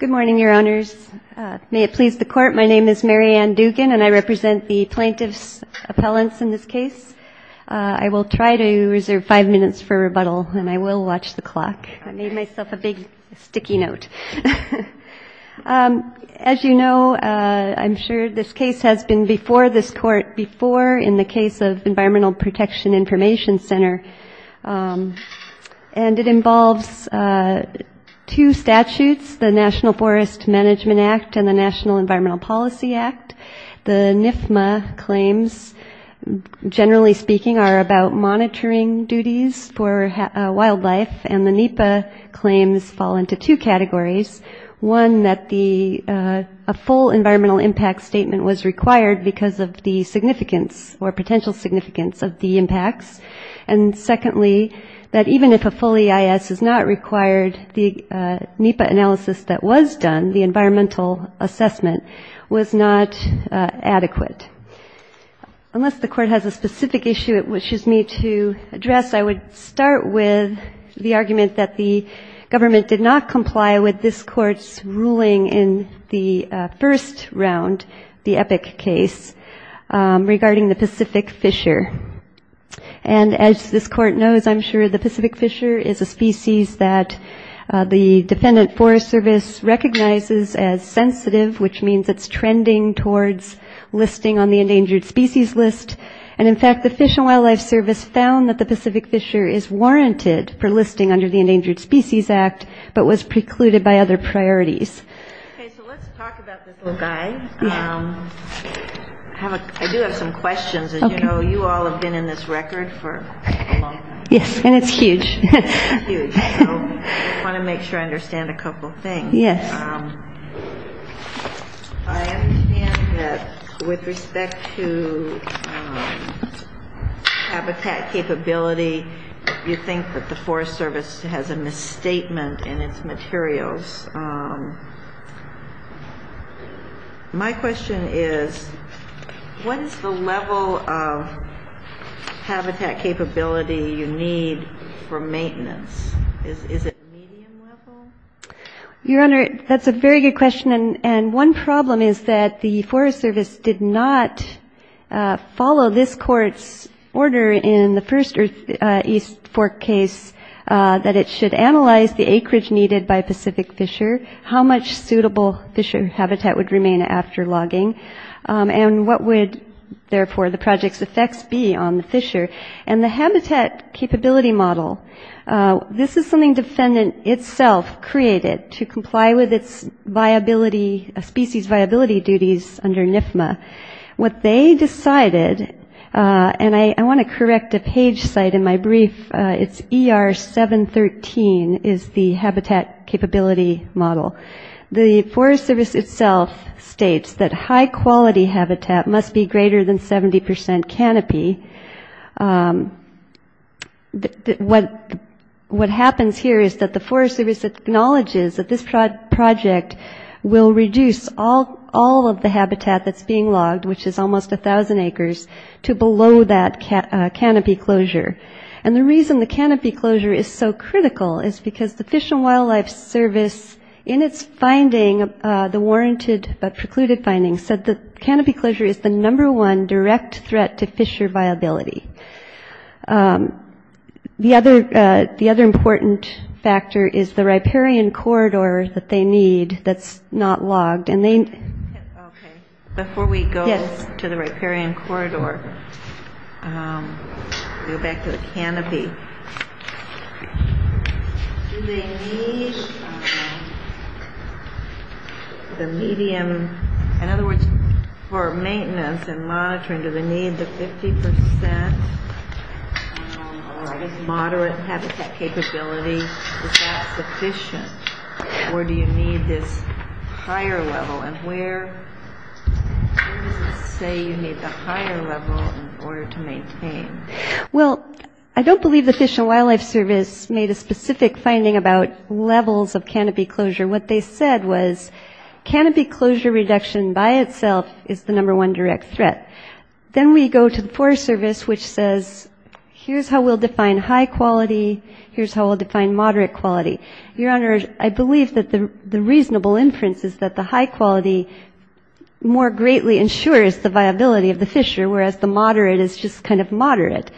Good morning your honors. May it please the court. My name is Marianne Dugan and I represent the plaintiffs appellants in this case I will try to reserve five minutes for rebuttal and I will watch the clock. I made myself a big sticky note As you know, I'm sure this case has been before this court before in the case of Environmental Protection Information Center and it involves Two statutes the National Forest Management Act and the National Environmental Policy Act the NIFMA claims Generally speaking are about monitoring duties for wildlife and the NEPA claims fall into two categories one that the a full environmental impact statement was required because of the significance or potential significance of the impacts and Required the NEPA analysis that was done the environmental assessment was not adequate Unless the court has a specific issue. It wishes me to address I would start with The argument that the government did not comply with this court's ruling in the first round the epic case regarding the Pacific Fisher and This court knows I'm sure the Pacific Fisher is a species that the Defendant Forest Service recognizes as sensitive which means it's trending towards Listing on the endangered species list and in fact the Fish and Wildlife Service found that the Pacific Fisher is Warranted for listing under the Endangered Species Act, but was precluded by other priorities Okay, so let's talk about this little guy Have a I do have some questions, and you know you all have been in this record for Yes, and it's huge Want to make sure I understand a couple things yes With respect to Habitat capability you think that the Forest Service has a misstatement in its materials My Question is what is the level of? Habitat capability you need for maintenance Your honor that's a very good question and and one problem is that the Forest Service did not Follow this court's order in the first or East Fork case That it should analyze the acreage needed by Pacific Fisher how much suitable Fisher habitat would remain after logging And what would therefore the project's effects be on the Fisher and the habitat capability model? This is something defendant itself created to comply with its Viability a species viability duties under NIFMA what they decided And I want to correct a page site in my brief. It's er 713 is the habitat capability model the Forest Service itself States that high quality habitat must be greater than 70% canopy What What happens here is that the Forest Service? Acknowledges that this project will reduce all all of the habitat that's being logged Which is almost a thousand acres to below that cat canopy closure And the reason the canopy closure is so critical is because the Fish and Wildlife Service in its finding The warranted but precluded findings said the canopy closure is the number one direct threat to Fisher viability The other the other important factor is the riparian corridor that they need that's not logged and they Before we go to the riparian corridor Go back to the canopy The medium in other words for maintenance and monitoring to the need the 50% Moderate habitat capability Efficient or do you need this higher level and where? Say you need the higher level in order to maintain Well, I don't believe the Fish and Wildlife Service made a specific finding about levels of canopy closure what they said was Canopy closure reduction by itself is the number one direct threat then we go to the Forest Service which says Here's how we'll define high quality. Here's how we'll define moderate quality your honor I believe that the the reasonable inference is that the high quality? More greatly ensures the viability of the Fisher whereas the moderate is just kind of moderate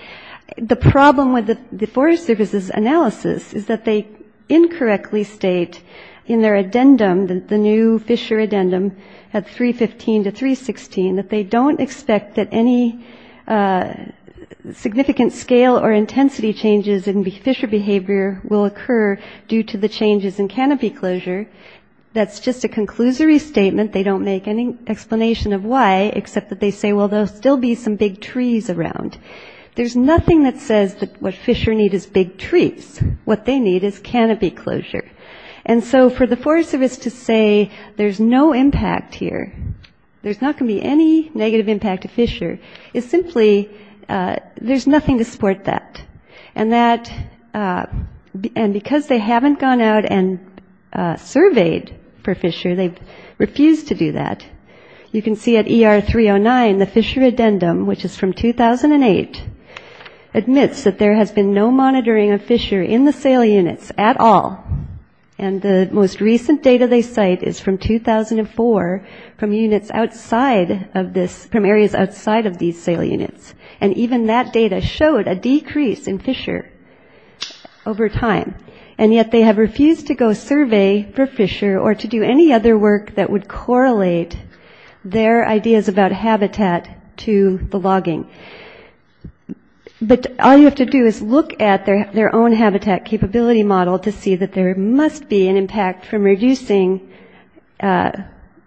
the problem with the Forest Service's analysis is that they Incorrectly state in their addendum that the new Fisher addendum at 315 to 316 that they don't expect that any Significant scale or intensity changes and be Fisher behavior will occur due to the changes in canopy closure That's just a conclusory statement. They don't make any explanation of why except that they say well There'll still be some big trees around There's nothing that says that what Fisher need is big trees what they need is canopy closure And so for the Forest Service to say there's no impact here There's not going to be any negative impact to Fisher is simply there's nothing to support that and that and because they haven't gone out and Surveyed for Fisher. They've refused to do that you can see at er 309 the Fisher addendum, which is from 2008 admits that there has been no monitoring of Fisher in the sale units at all and Most recent data they cite is from 2004 from units outside of this from areas outside of these sale units and even that data showed a decrease in Fisher Over time and yet they have refused to go survey for Fisher or to do any other work that would correlate Their ideas about habitat to the logging But all you have to do is look at their their own habitat capability model to see that there must be an impact from reducing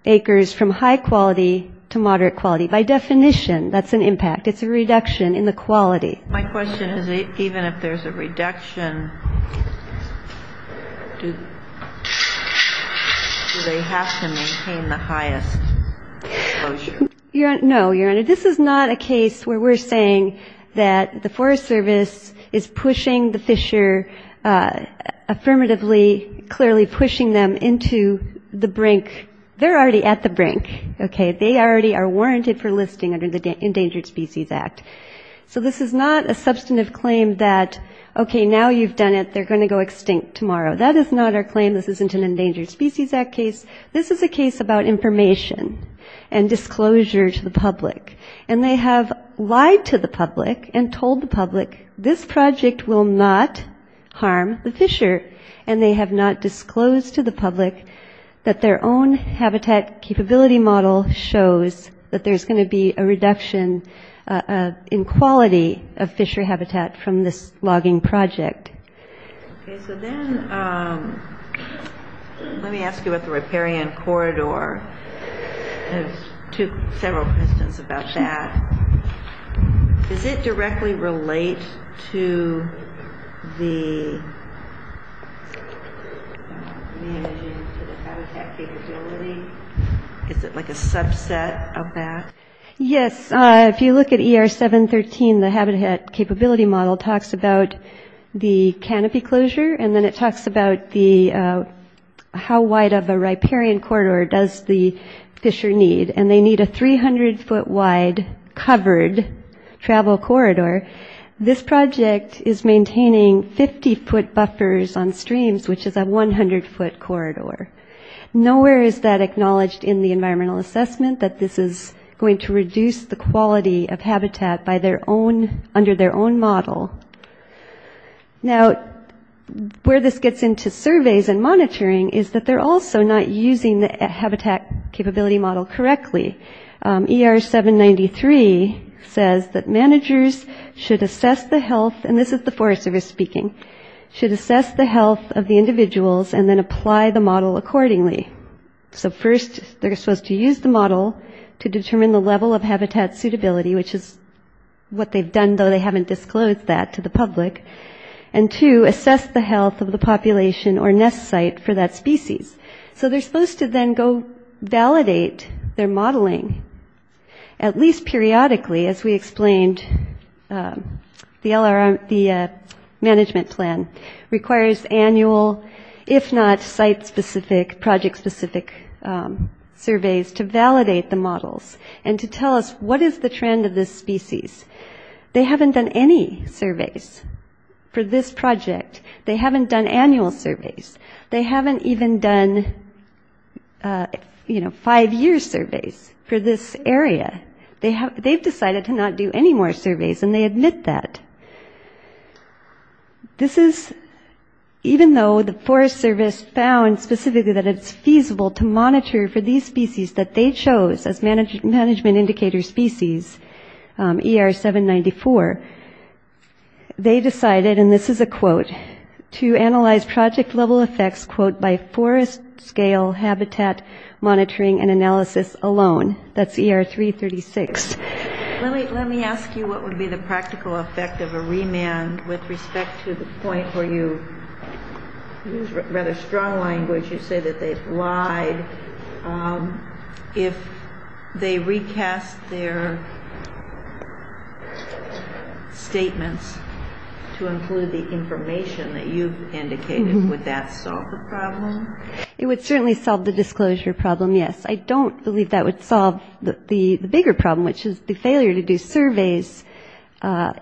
Acres from high quality to moderate quality by definition. That's an impact. It's a reduction in the quality My question is it even if there's a reduction Yeah, no your honor this is not a case where we're saying that the Forest Service is pushing the Fisher Affirmatively clearly pushing them into the brink. They're already at the brink Okay, they already are warranted for listing under the Endangered Species Act So this is not a substantive claim that okay now you've done it they're going to go extinct tomorrow That is not our claim. This isn't an Endangered Species Act case. This is a case about information and Disclosure to the public and they have lied to the public and told the public this project will not Harm the Fisher and they have not disclosed to the public that their own habitat capability model Shows that there's going to be a reduction In quality of Fisher habitat from this logging project Let me ask you what the riparian corridor Took several questions about that the Is it like a subset of that? Yes, if you look at er 713 the habitat capability model talks about the canopy closure, and then it talks about the How wide of a riparian corridor does the Fisher need and they need a 300 foot wide? covered Travel corridor this project is maintaining 50 foot buffers on streams Which is a 100 foot corridor? Nowhere is that acknowledged in the environmental assessment that this is going to reduce the quality of habitat by their own under their own model now Where this gets into surveys and monitoring is that they're also not using the habitat capability model correctly er 793 says that managers should assess the health and this is the Forest Service speaking Should assess the health of the individuals and then apply the model accordingly so first they're supposed to use the model to determine the level of habitat suitability, which is what they've done though they haven't disclosed that to the public and To assess the health of the population or nest site for that species, so they're supposed to then go validate their modeling At least periodically as we explained the LRM the Management plan requires annual if not site specific project specific Surveys to validate the models and to tell us. What is the trend of this species? They haven't done any surveys For this project they haven't done annual surveys. They haven't even done You know five years surveys for this area they have they've decided to not do any more surveys and they admit that This is Even though the Forest Service found specifically that it's feasible to monitor for these species that they chose as managed management indicator species er 794 They decided and this is a quote to analyze project level effects quote by forest scale habitat Monitoring and analysis alone. That's er 336 Let me ask you what would be the practical effect of a remand with respect to the point where you? Read a strong language you say that they've lied If they recast their Statements to include the information that you've indicated with that so It would certainly solve the disclosure problem. Yes, I don't believe that would solve the bigger problem, which is the failure to do surveys at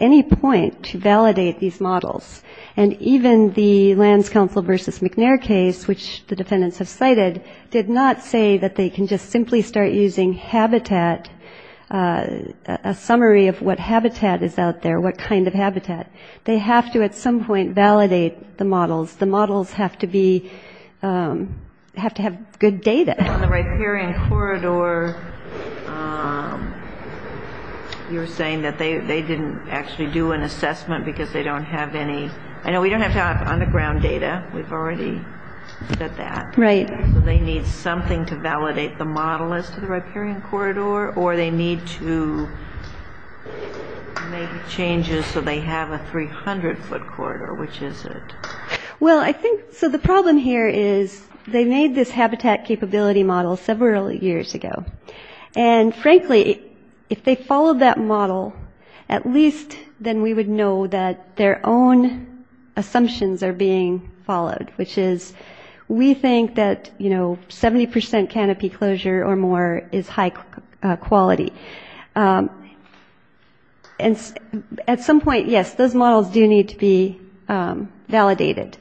any point to validate these models and Even the lands council versus McNair case which the defendants have cited did not say that they can just simply start using habitat A summary of what habitat is out there? What kind of habitat they have to at some point validate the models the models have to be? Have to have good data You're saying that they didn't actually do an assessment because they don't have any I know we don't have on the ground data We've already That that right they need something to validate the model as to the riparian corridor, or they need to Make changes so they have a 300 foot quarter, which is it well I think so the problem here is they made this habitat capability model several years ago and Frankly if they followed that model at least then we would know that their own Assumptions are being followed, which is we think that you know 70% canopy closure or more is high quality And at some point yes those models do need to be validated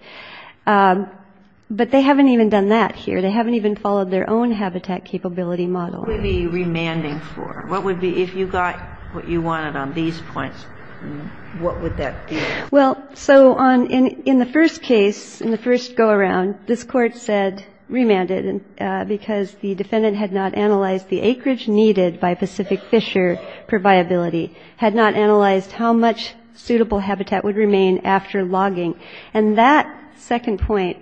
But they haven't even done that here they haven't even followed their own habitat capability model We be remanding for what would be if you got what you wanted on these points? What would that well so on in in the first case in the first go-around this court said Remanded and because the defendant had not analyzed the acreage needed by Pacific Fisher Proviability had not analyzed how much suitable habitat would remain after logging and that second point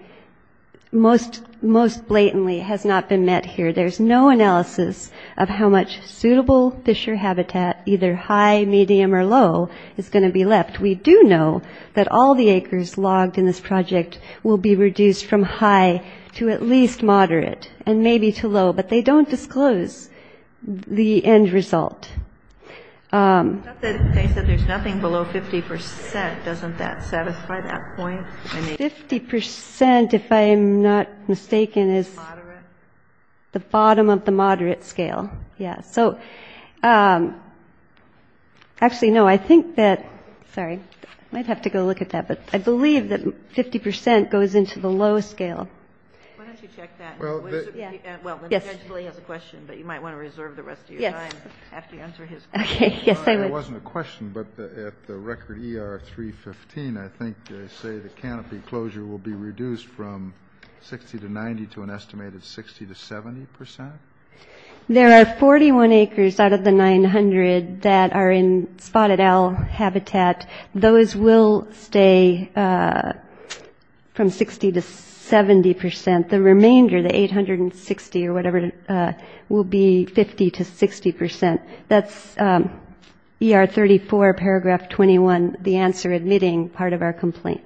Most most blatantly has not been met here There's no analysis of how much suitable Fisher habitat either high medium or low is going to be left We do know that all the acres logged in this project will be reduced from high to at least Moderate and maybe too low, but they don't disclose the end result There's nothing below 50% doesn't that satisfy that point 50% if I am not mistaken is The bottom of the moderate scale, yeah, so Actually, no, I think that sorry I'd have to go look at that, but I believe that 50% goes into the low scale Okay, yes, there wasn't a question, but the record er 315 I think they say the canopy closure will be reduced from 60 to 90 to an estimated 60 to 70 percent There are 41 acres out of the 900 that are in spotted owl habitat. Those will stay From 60 to 70 percent the remainder the 860 or whatever Will be 50 to 60 percent. That's Er 34 paragraph 21 the answer admitting part of our complaint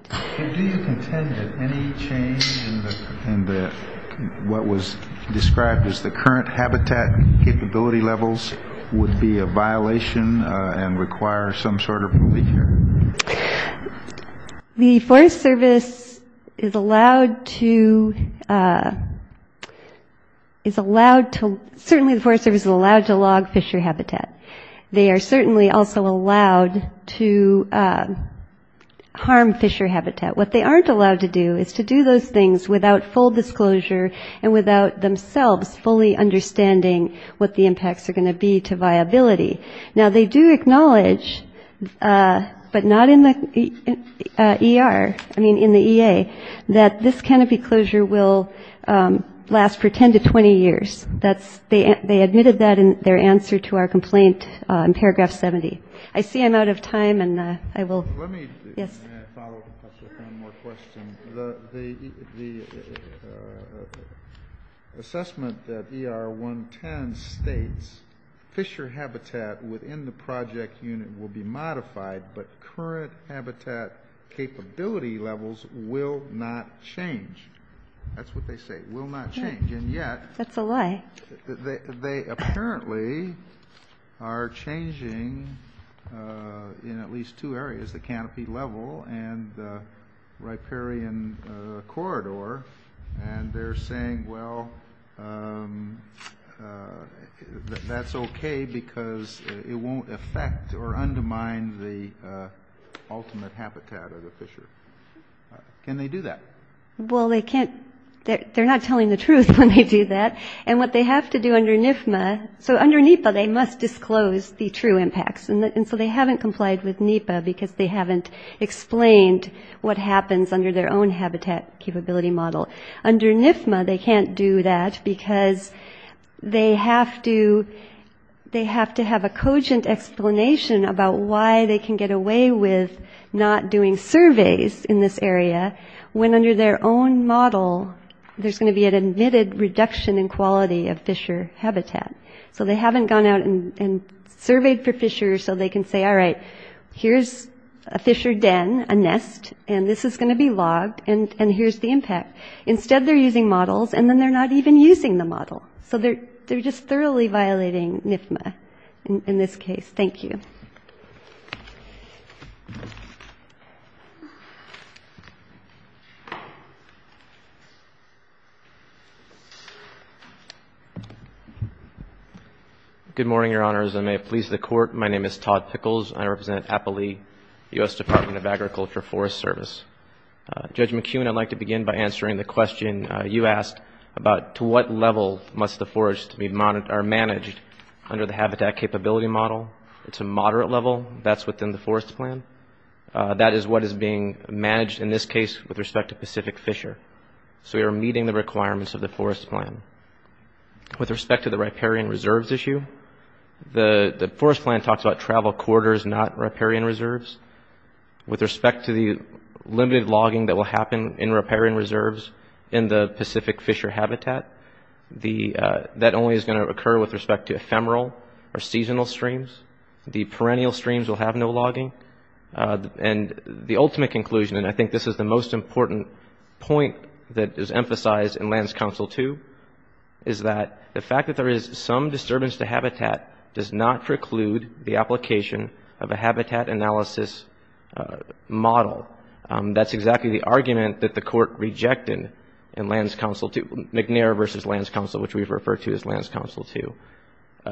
And What was described as the current habitat capability levels would be a violation and require some sort of? The Forest Service is allowed to Is allowed to certainly the Forest Service is allowed to log Fisher habitat they are certainly also allowed to Harm Fisher habitat what they aren't allowed to do is to do those things without full disclosure and without themselves fully Understanding what the impacts are going to be to viability now. They do acknowledge but not in the Er. I mean in the EA that this canopy closure will Last for 10 to 20 years. That's they they admitted that in their answer to our complaint in paragraph 70 I see I'm out of time and I will Assessment that er 110 states Fisher habitat within the project unit will be modified but current habitat Capability levels will not change That's what they say will not change and yet. That's a lie they apparently Are changing in at least two areas the canopy level and Riparian corridor, and they're saying well That's okay because it won't affect or undermine the ultimate habitat of the Fisher Can they do that? Well, they can't they're not telling the truth when they do that and what they have to do under NIF ma So under NEPA they must disclose the true impacts and so they haven't complied with NEPA because they haven't Explained what happens under their own habitat capability model under NIF ma. They can't do that because they have to They have to have a cogent explanation about why they can get away with Not doing surveys in this area when under their own model There's going to be an admitted reduction in quality of Fisher habitat. So they haven't gone out and Surveyed for Fisher so they can say all right Here's a Fisher den a nest and this is going to be logged and and here's the impact instead They're using models and then they're not even using the model. So they're they're just thoroughly violating NIF ma in this case. Thank you Thank you Good morning, your honors. I may have pleased the court. My name is Todd Pickles. I represent Appalee US Department of Agriculture Forest Service Judge McEwen I'd like to begin by answering the question you asked about to what level must the forest be monitored are managed Under the habitat capability model. It's a moderate level. That's within the forest plan That is what is being managed in this case with respect to Pacific Fisher. So we are meeting the requirements of the forest plan with respect to the riparian reserves issue The the forest plan talks about travel quarters not riparian reserves with respect to the limited logging that will happen in riparian reserves in the Pacific Fisher habitat The that only is going to occur with respect to ephemeral or seasonal streams. The perennial streams will have no logging And the ultimate conclusion and I think this is the most important point that is emphasized in lands council, too Is that the fact that there is some disturbance to habitat does not preclude the application of a habitat analysis? Model that's exactly the argument that the court rejected in lands council to McNair versus lands council Which we've referred to as lands council to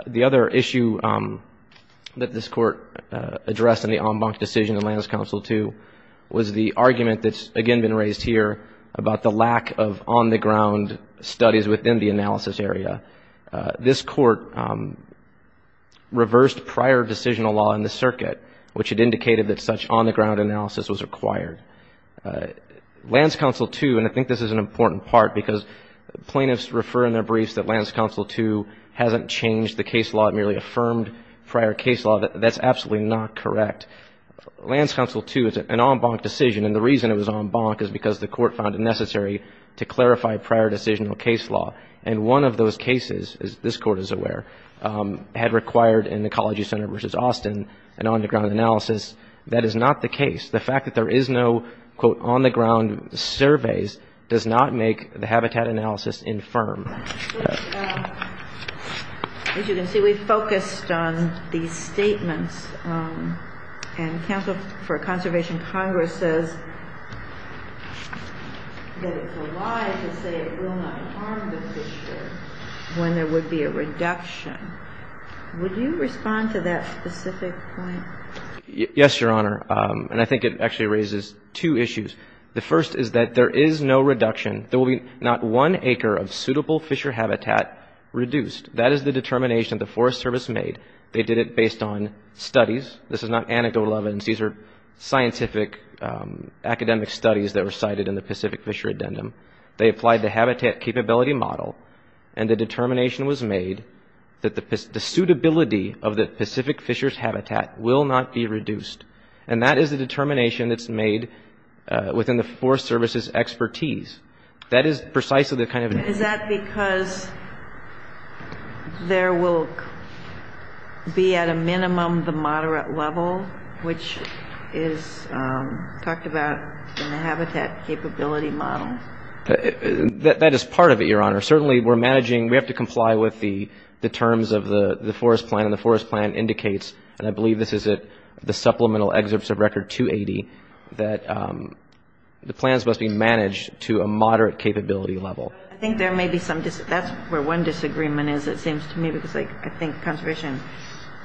the other issue that this court Addressed in the en banc decision in lands council to was the argument that's again been raised here about the lack of on the ground studies within the analysis area this court Reversed prior decisional law in the circuit which had indicated that such on-the-ground analysis was required lands council to and I think this is an important part because Plaintiffs refer in their briefs that lands council to hasn't changed the case law. It merely affirmed prior case law. That's absolutely not correct lands council to is an en banc decision and the reason it was en banc is because the court found it necessary to Clarify prior decisional case law and one of those cases is this court is aware Had required in the ecology center versus Austin and on the ground analysis That is not the case the fact that there is no quote on the ground Surveys does not make the habitat analysis infirm As you can see we focused on these statements and counsel for conservation Congress says When there would be a reduction Would you respond to that specific point? Yes, your honor, and I think it actually raises two issues The first is that there is no reduction there will be not one acre of suitable Fisher habitat Reduced that is the determination of the Forest Service made they did it based on studies. This is not anecdotal evidence. These are scientific Academic studies that were cited in the Pacific Fisher addendum They applied the habitat capability model and the determination was made that the suitability of the Pacific Fishers Habitat will not be reduced and that is the determination that's made Within the Forest Service's expertise. That is precisely the kind of is that because There will Be at a minimum the moderate level which is talked about in the habitat capability model that is part of it your honor certainly we're managing we have to comply with the Terms of the the forest plan and the forest plan indicates and I believe this is it the supplemental excerpts of record 280 that The plans must be managed to a moderate capability level I think there may be some just that's where one disagreement is it seems to me because like I think conservation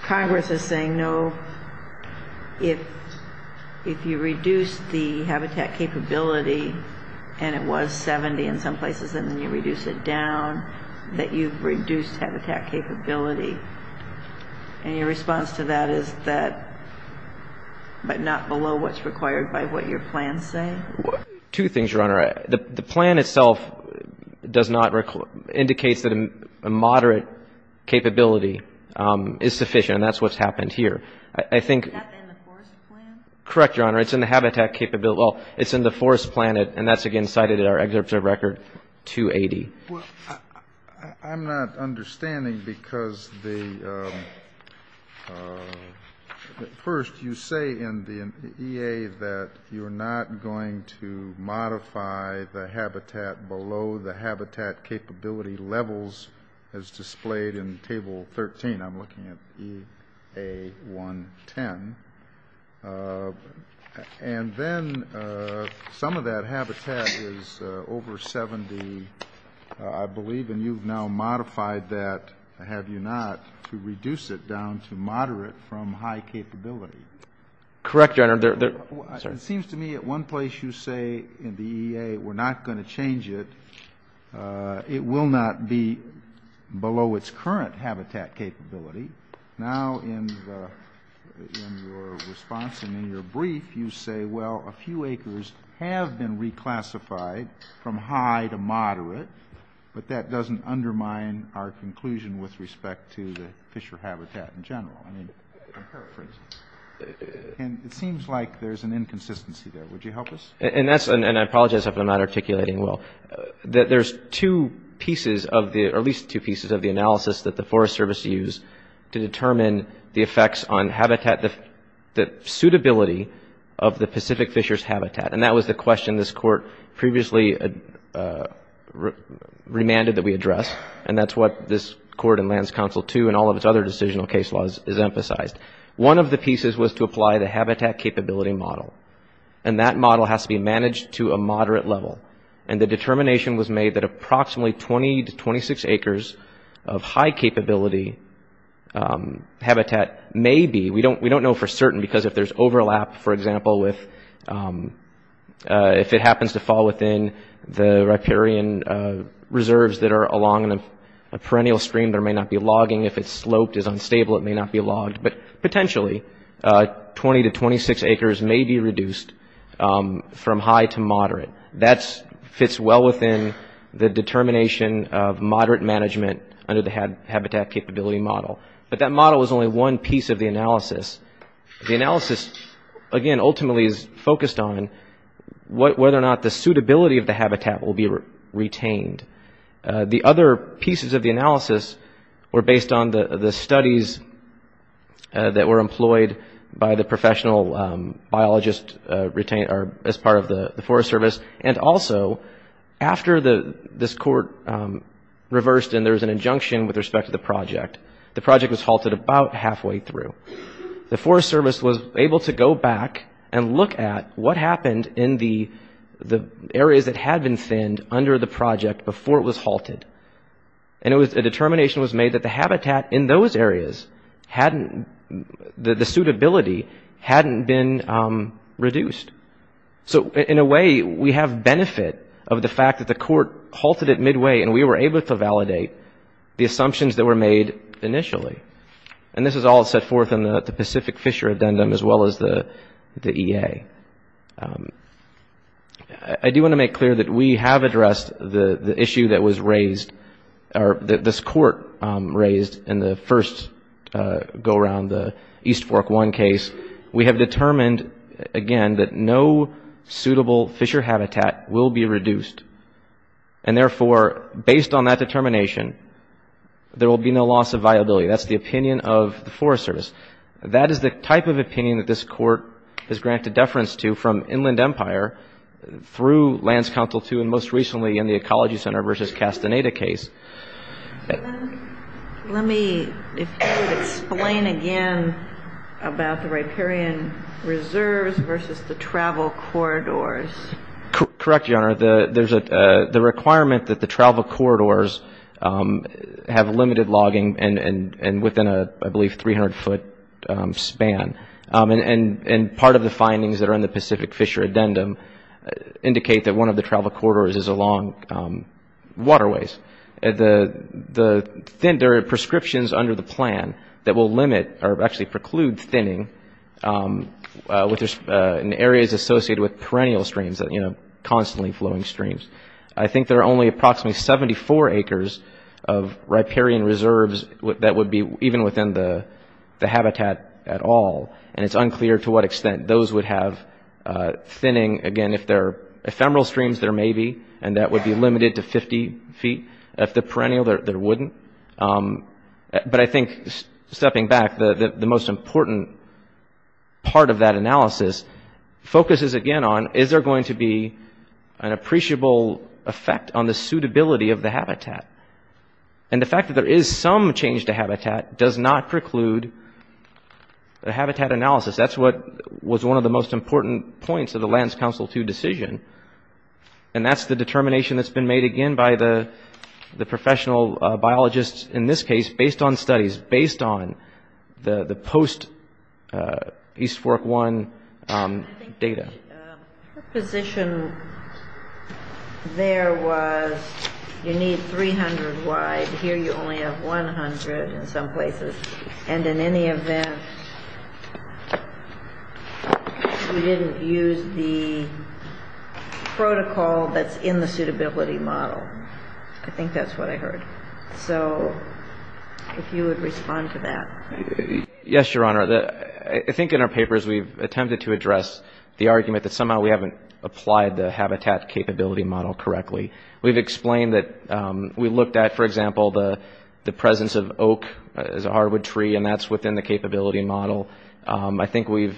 Congress is saying no if If you reduce the habitat capability and it was 70 in some places and then you reduce it down That you've reduced habitat capability and your response to that is that But not below what's required by what your plans say what two things your honor the the plan itself Does not recall indicates that a moderate Capability is sufficient. That's what's happened here. I think Correct your honor. It's in the habitat capability. Well, it's in the forest planet and that's again cited at our excerpts of record 280 I'm not understanding because the First you say in the EA that you're not going to Modify the habitat below the habitat capability levels as displayed in table 13 I'm looking at a 110 And then some of that habitat is over 70 I You've now modified that have you not to reduce it down to moderate from high capability Correct your honor there. It seems to me at one place you say in the EA. We're not going to change it It will not be below its current habitat capability now in Response and in your brief you say well a few acres have been reclassified From high to moderate, but that doesn't undermine our conclusion with respect to the Fisher Habitat in general And it seems like there's an inconsistency there would you help us and that's and I apologize if I'm not articulating well That there's two pieces of the or at least two pieces of the analysis that the Forest Service used to determine the effects on habitat the Suitability of the Pacific Fishers habitat, and that was the question this court previously Remanded that we address and that's what this court and lands council to and all of its other decisional case laws is emphasized one of the pieces was to apply the habitat capability model and that model has to be managed to a moderate level and the determination was made that approximately 20 to 26 acres of high capability Habitat maybe we don't we don't know for certain because if there's overlap for example with If it happens to fall within the riparian Reserves that are along in a perennial stream there may not be logging if it's sloped is unstable it may not be logged but potentially 20 to 26 acres may be reduced from high to moderate that's fits well within the Habitat capability model, but that model is only one piece of the analysis the analysis again ultimately is focused on What whether or not the suitability of the habitat will be retained? The other pieces of the analysis were based on the the studies That were employed by the professional Biologist retained are as part of the Forest Service and also after the this court Reversed and there's an injunction with respect to the project the project was halted about halfway through the Forest Service was able to go back and look at what happened in the the areas that had been thinned under the project before it was halted and It was a determination was made that the habitat in those areas hadn't the the suitability hadn't been reduced So in a way we have benefit of the fact that the court halted it midway and we were able to validate the assumptions that were made initially and this is all set forth in the Pacific Fisher addendum as well as the the EA I Do want to make clear that we have addressed the the issue that was raised or that this court raised in the first Go around the East Fork one case. We have determined again that no suitable Fisher habitat will be reduced and therefore based on that determination There will be no loss of viability. That's the opinion of the Forest Service That is the type of opinion that this court has granted deference to from Inland Empire Through lands council to and most recently in the Ecology Center versus Castaneda case It Let me explain again about the riparian reserves versus the travel corridors Correct your honor. The there's a the requirement that the travel corridors Have limited logging and and and within a I believe 300 foot Span and and and part of the findings that are in the Pacific Fisher addendum Indicate that one of the travel corridors is along Waterways at the the thin dirt prescriptions under the plan that will limit or actually preclude thinning With there's an areas associated with perennial streams that you know constantly flowing streams. I think there are only approximately 74 acres of riparian reserves what that would be even within the Habitat at all and it's unclear to what extent those would have Thinning again if they're ephemeral streams there may be and that would be limited to 50 feet if the perennial there wouldn't But I think stepping back the the most important part of that analysis focuses again on is there going to be an appreciable effect on the suitability of the habitat and The fact that there is some change to habitat does not preclude The habitat analysis, that's what was one of the most important points of the lands council to decision and that's the determination that's been made again by the The professional biologists in this case based on studies based on the the post East fork one data position There was You need 300 wide here you only have 100 in some places and in any event We didn't use the Protocol that's in the suitability model. I think that's what I heard so If you would respond to that Yes, your honor that I think in our papers We've attempted to address the argument that somehow we haven't applied the habitat capability model correctly We've explained that we looked at for example The the presence of oak is a hardwood tree and that's within the capability model I think we've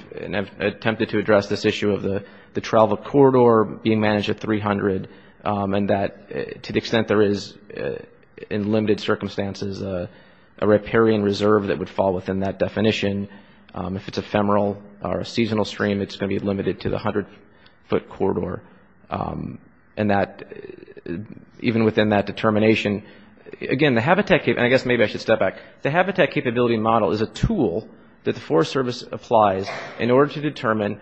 attempted to address this issue of the the travel corridor being managed at 300 and that to the extent there is in limited circumstances a Riparian reserve that would fall within that definition If it's a femoral or a seasonal stream, it's going to be limited to the hundred foot corridor and that Even within that determination Again, the habitat cave and I guess maybe I should step back The habitat capability model is a tool that the Forest Service applies in order to determine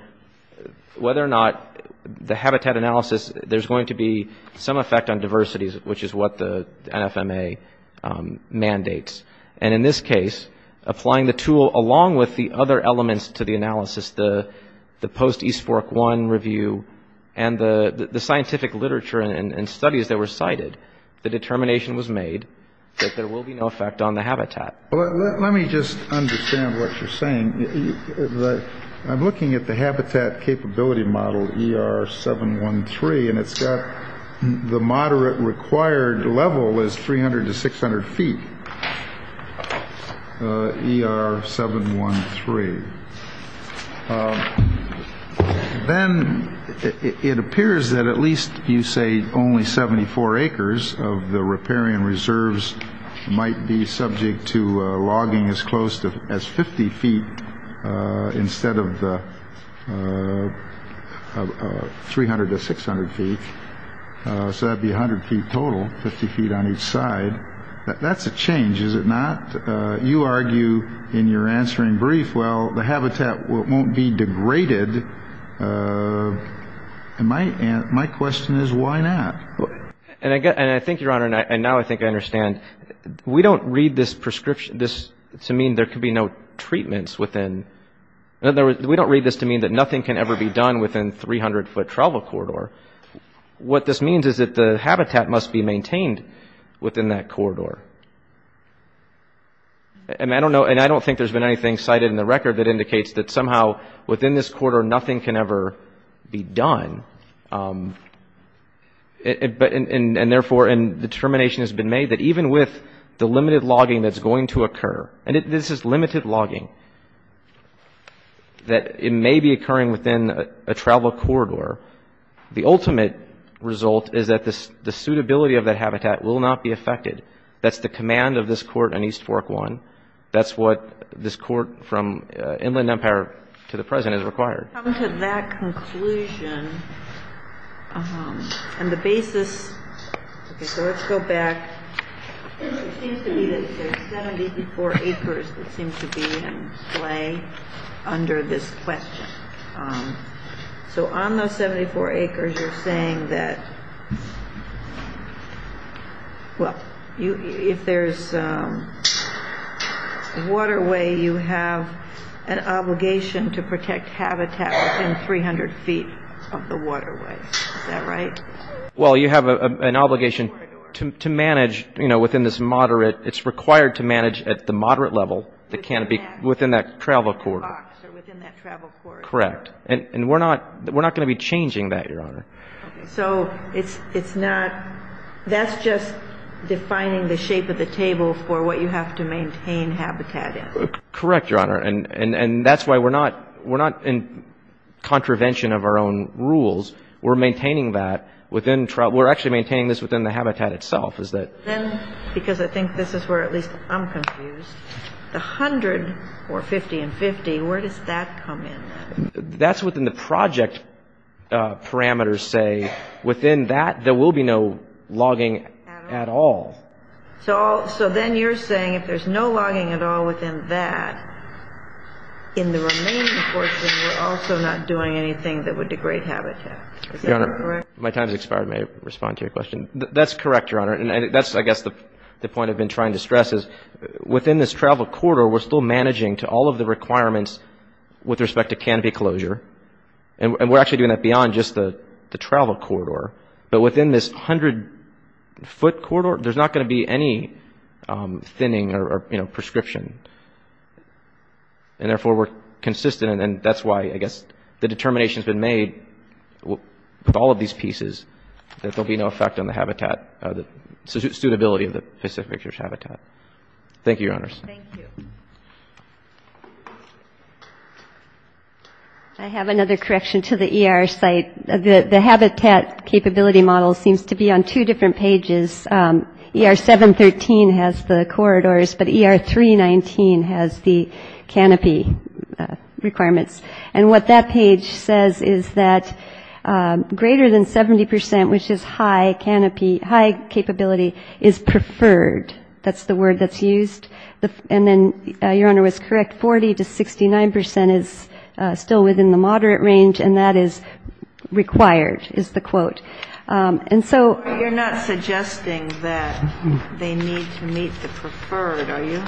Whether or not the habitat analysis there's going to be some effect on diversities, which is what the NFMA mandates and in this case applying the tool along with the other elements to the analysis the the post East Fork one review and The the scientific literature and studies that were cited the determination was made that there will be no effect on the habitat Well, let me just understand what you're saying the I'm looking at the habitat capability model er 713 and it's got The moderate required level is 300 to 600 feet Er 713 Then It appears that at least you say only 74 acres of the riparian reserves Might be subject to logging as close to as 50 feet instead of the 300 to 600 feet So that'd be 100 feet total 50 feet on each side That's a change. Is it not you argue in your answering brief? Well, the habitat won't be degraded And my and my question is why not And I get and I think your honor and I and now I think I understand We don't read this prescription this to mean there could be no treatments within And there we don't read this to mean that nothing can ever be done within 300 foot travel corridor What this means is that the habitat must be maintained within that corridor? And I don't know and I don't think there's been anything cited in the record that indicates that somehow within this quarter nothing can ever be done But and and therefore and determination has been made that even with the limited logging that's going to occur and it this is limited logging That it may be occurring within a travel corridor The ultimate result is that this the suitability of that habitat will not be affected That's the command of this court on East Fork one. That's what this court from Inland Empire to the present is required And the basis Under this question So on those 74 acres you're saying that Well you if there's Waterway you have an Obligation to protect habitat and 300 feet of the waterway that right well you have an obligation To manage you know within this moderate. It's required to manage at the moderate level the canopy within that travel corridor Correct and and we're not we're not going to be changing that your honor, so it's it's not That's just defining the shape of the table for what you have to maintain Habitat it correct your honor and and and that's why we're not we're not in contravention of our own rules We're maintaining that within trial we're actually maintaining this within the habitat itself is that then because I think this is where at least I'm confused The hundred or 50 and 50 where does that come in that's within the project Parameters say within that there will be no logging at all So so then you're saying if there's no logging at all within that in the Also, not doing anything that would degrade habitat My time's expired may respond to your question. That's correct your honor And that's I guess the the point I've been trying to stress is within this travel corridor we're still managing to all of the requirements with respect to canopy closure and We're actually doing that beyond just the the travel corridor, but within this hundred Foot corridor, there's not going to be any thinning or you know prescription And therefore we're consistent, and that's why I guess the determination has been made With all of these pieces that there'll be no effect on the habitat the suitability of the Pacific fixtures habitat Thank You owners. I Have another correction to the ER site the the habitat capability model seems to be on two different pages Er 713 has the corridors, but er 319 has the canopy Requirements and what that page says is that Greater than 70% which is high canopy high capability is preferred That's the word that's used the and then your honor was correct 40 to 69 percent is still within the moderate range and that is Required is the quote and so you're not suggesting that They need to meet the preferred, are you?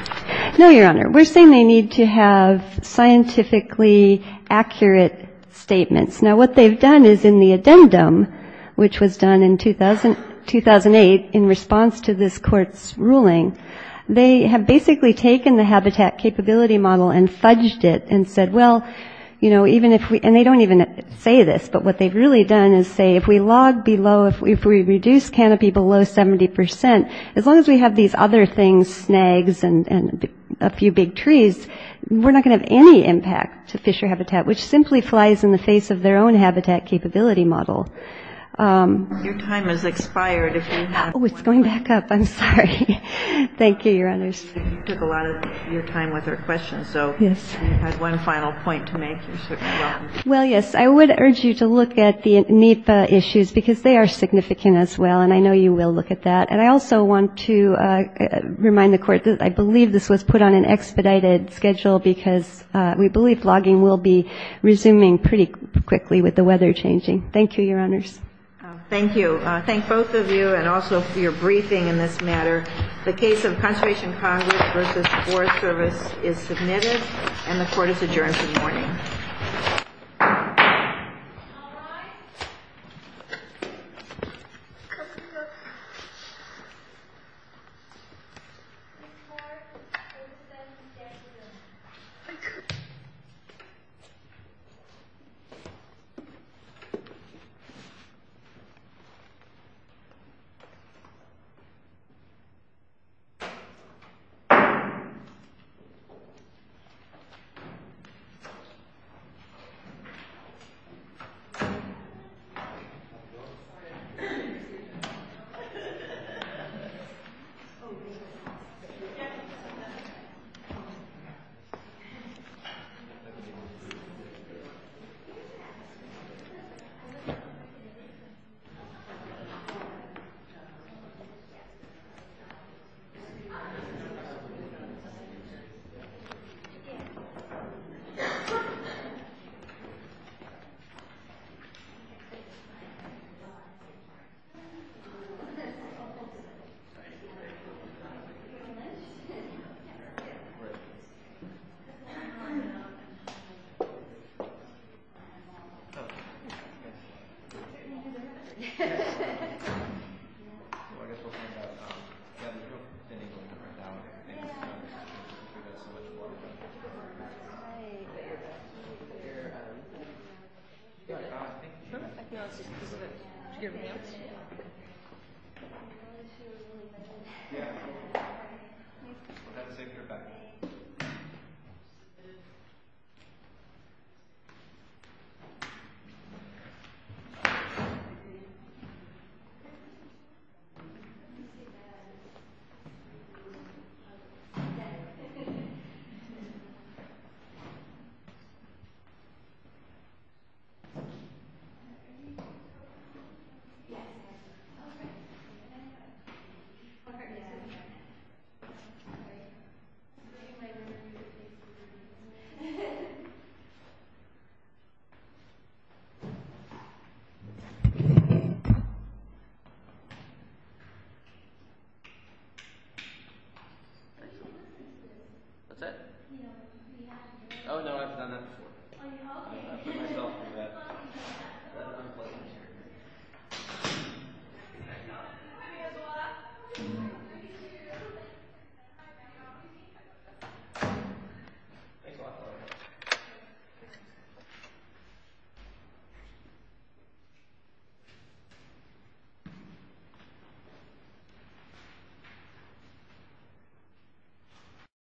No, your honor. We're saying they need to have scientifically Accurate statements now what they've done is in the addendum, which was done in 2008 in response to this court's ruling They have basically taken the habitat capability model and fudged it and said well You know even if we and they don't even say this But what they've really done is say if we log below if we reduce canopy below 70% As long as we have these other things snags and and a few big trees We're not going to have any impact to fisher habitat, which simply flies in the face of their own habitat capability model It's going back up, I'm sorry Thank you your honors Well yes I would urge you to look at the NEPA issues because they are Significant as well, and I know you will look at that, and I also want to Remind the court that I believe this was put on an expedited schedule because we believe logging will be Resuming pretty quickly with the weather changing. Thank you your honors Thank you. Thank both of you and also for your briefing in this matter the case of conservation Congress Versus Forest Service is submitted and the court is adjourned for the morning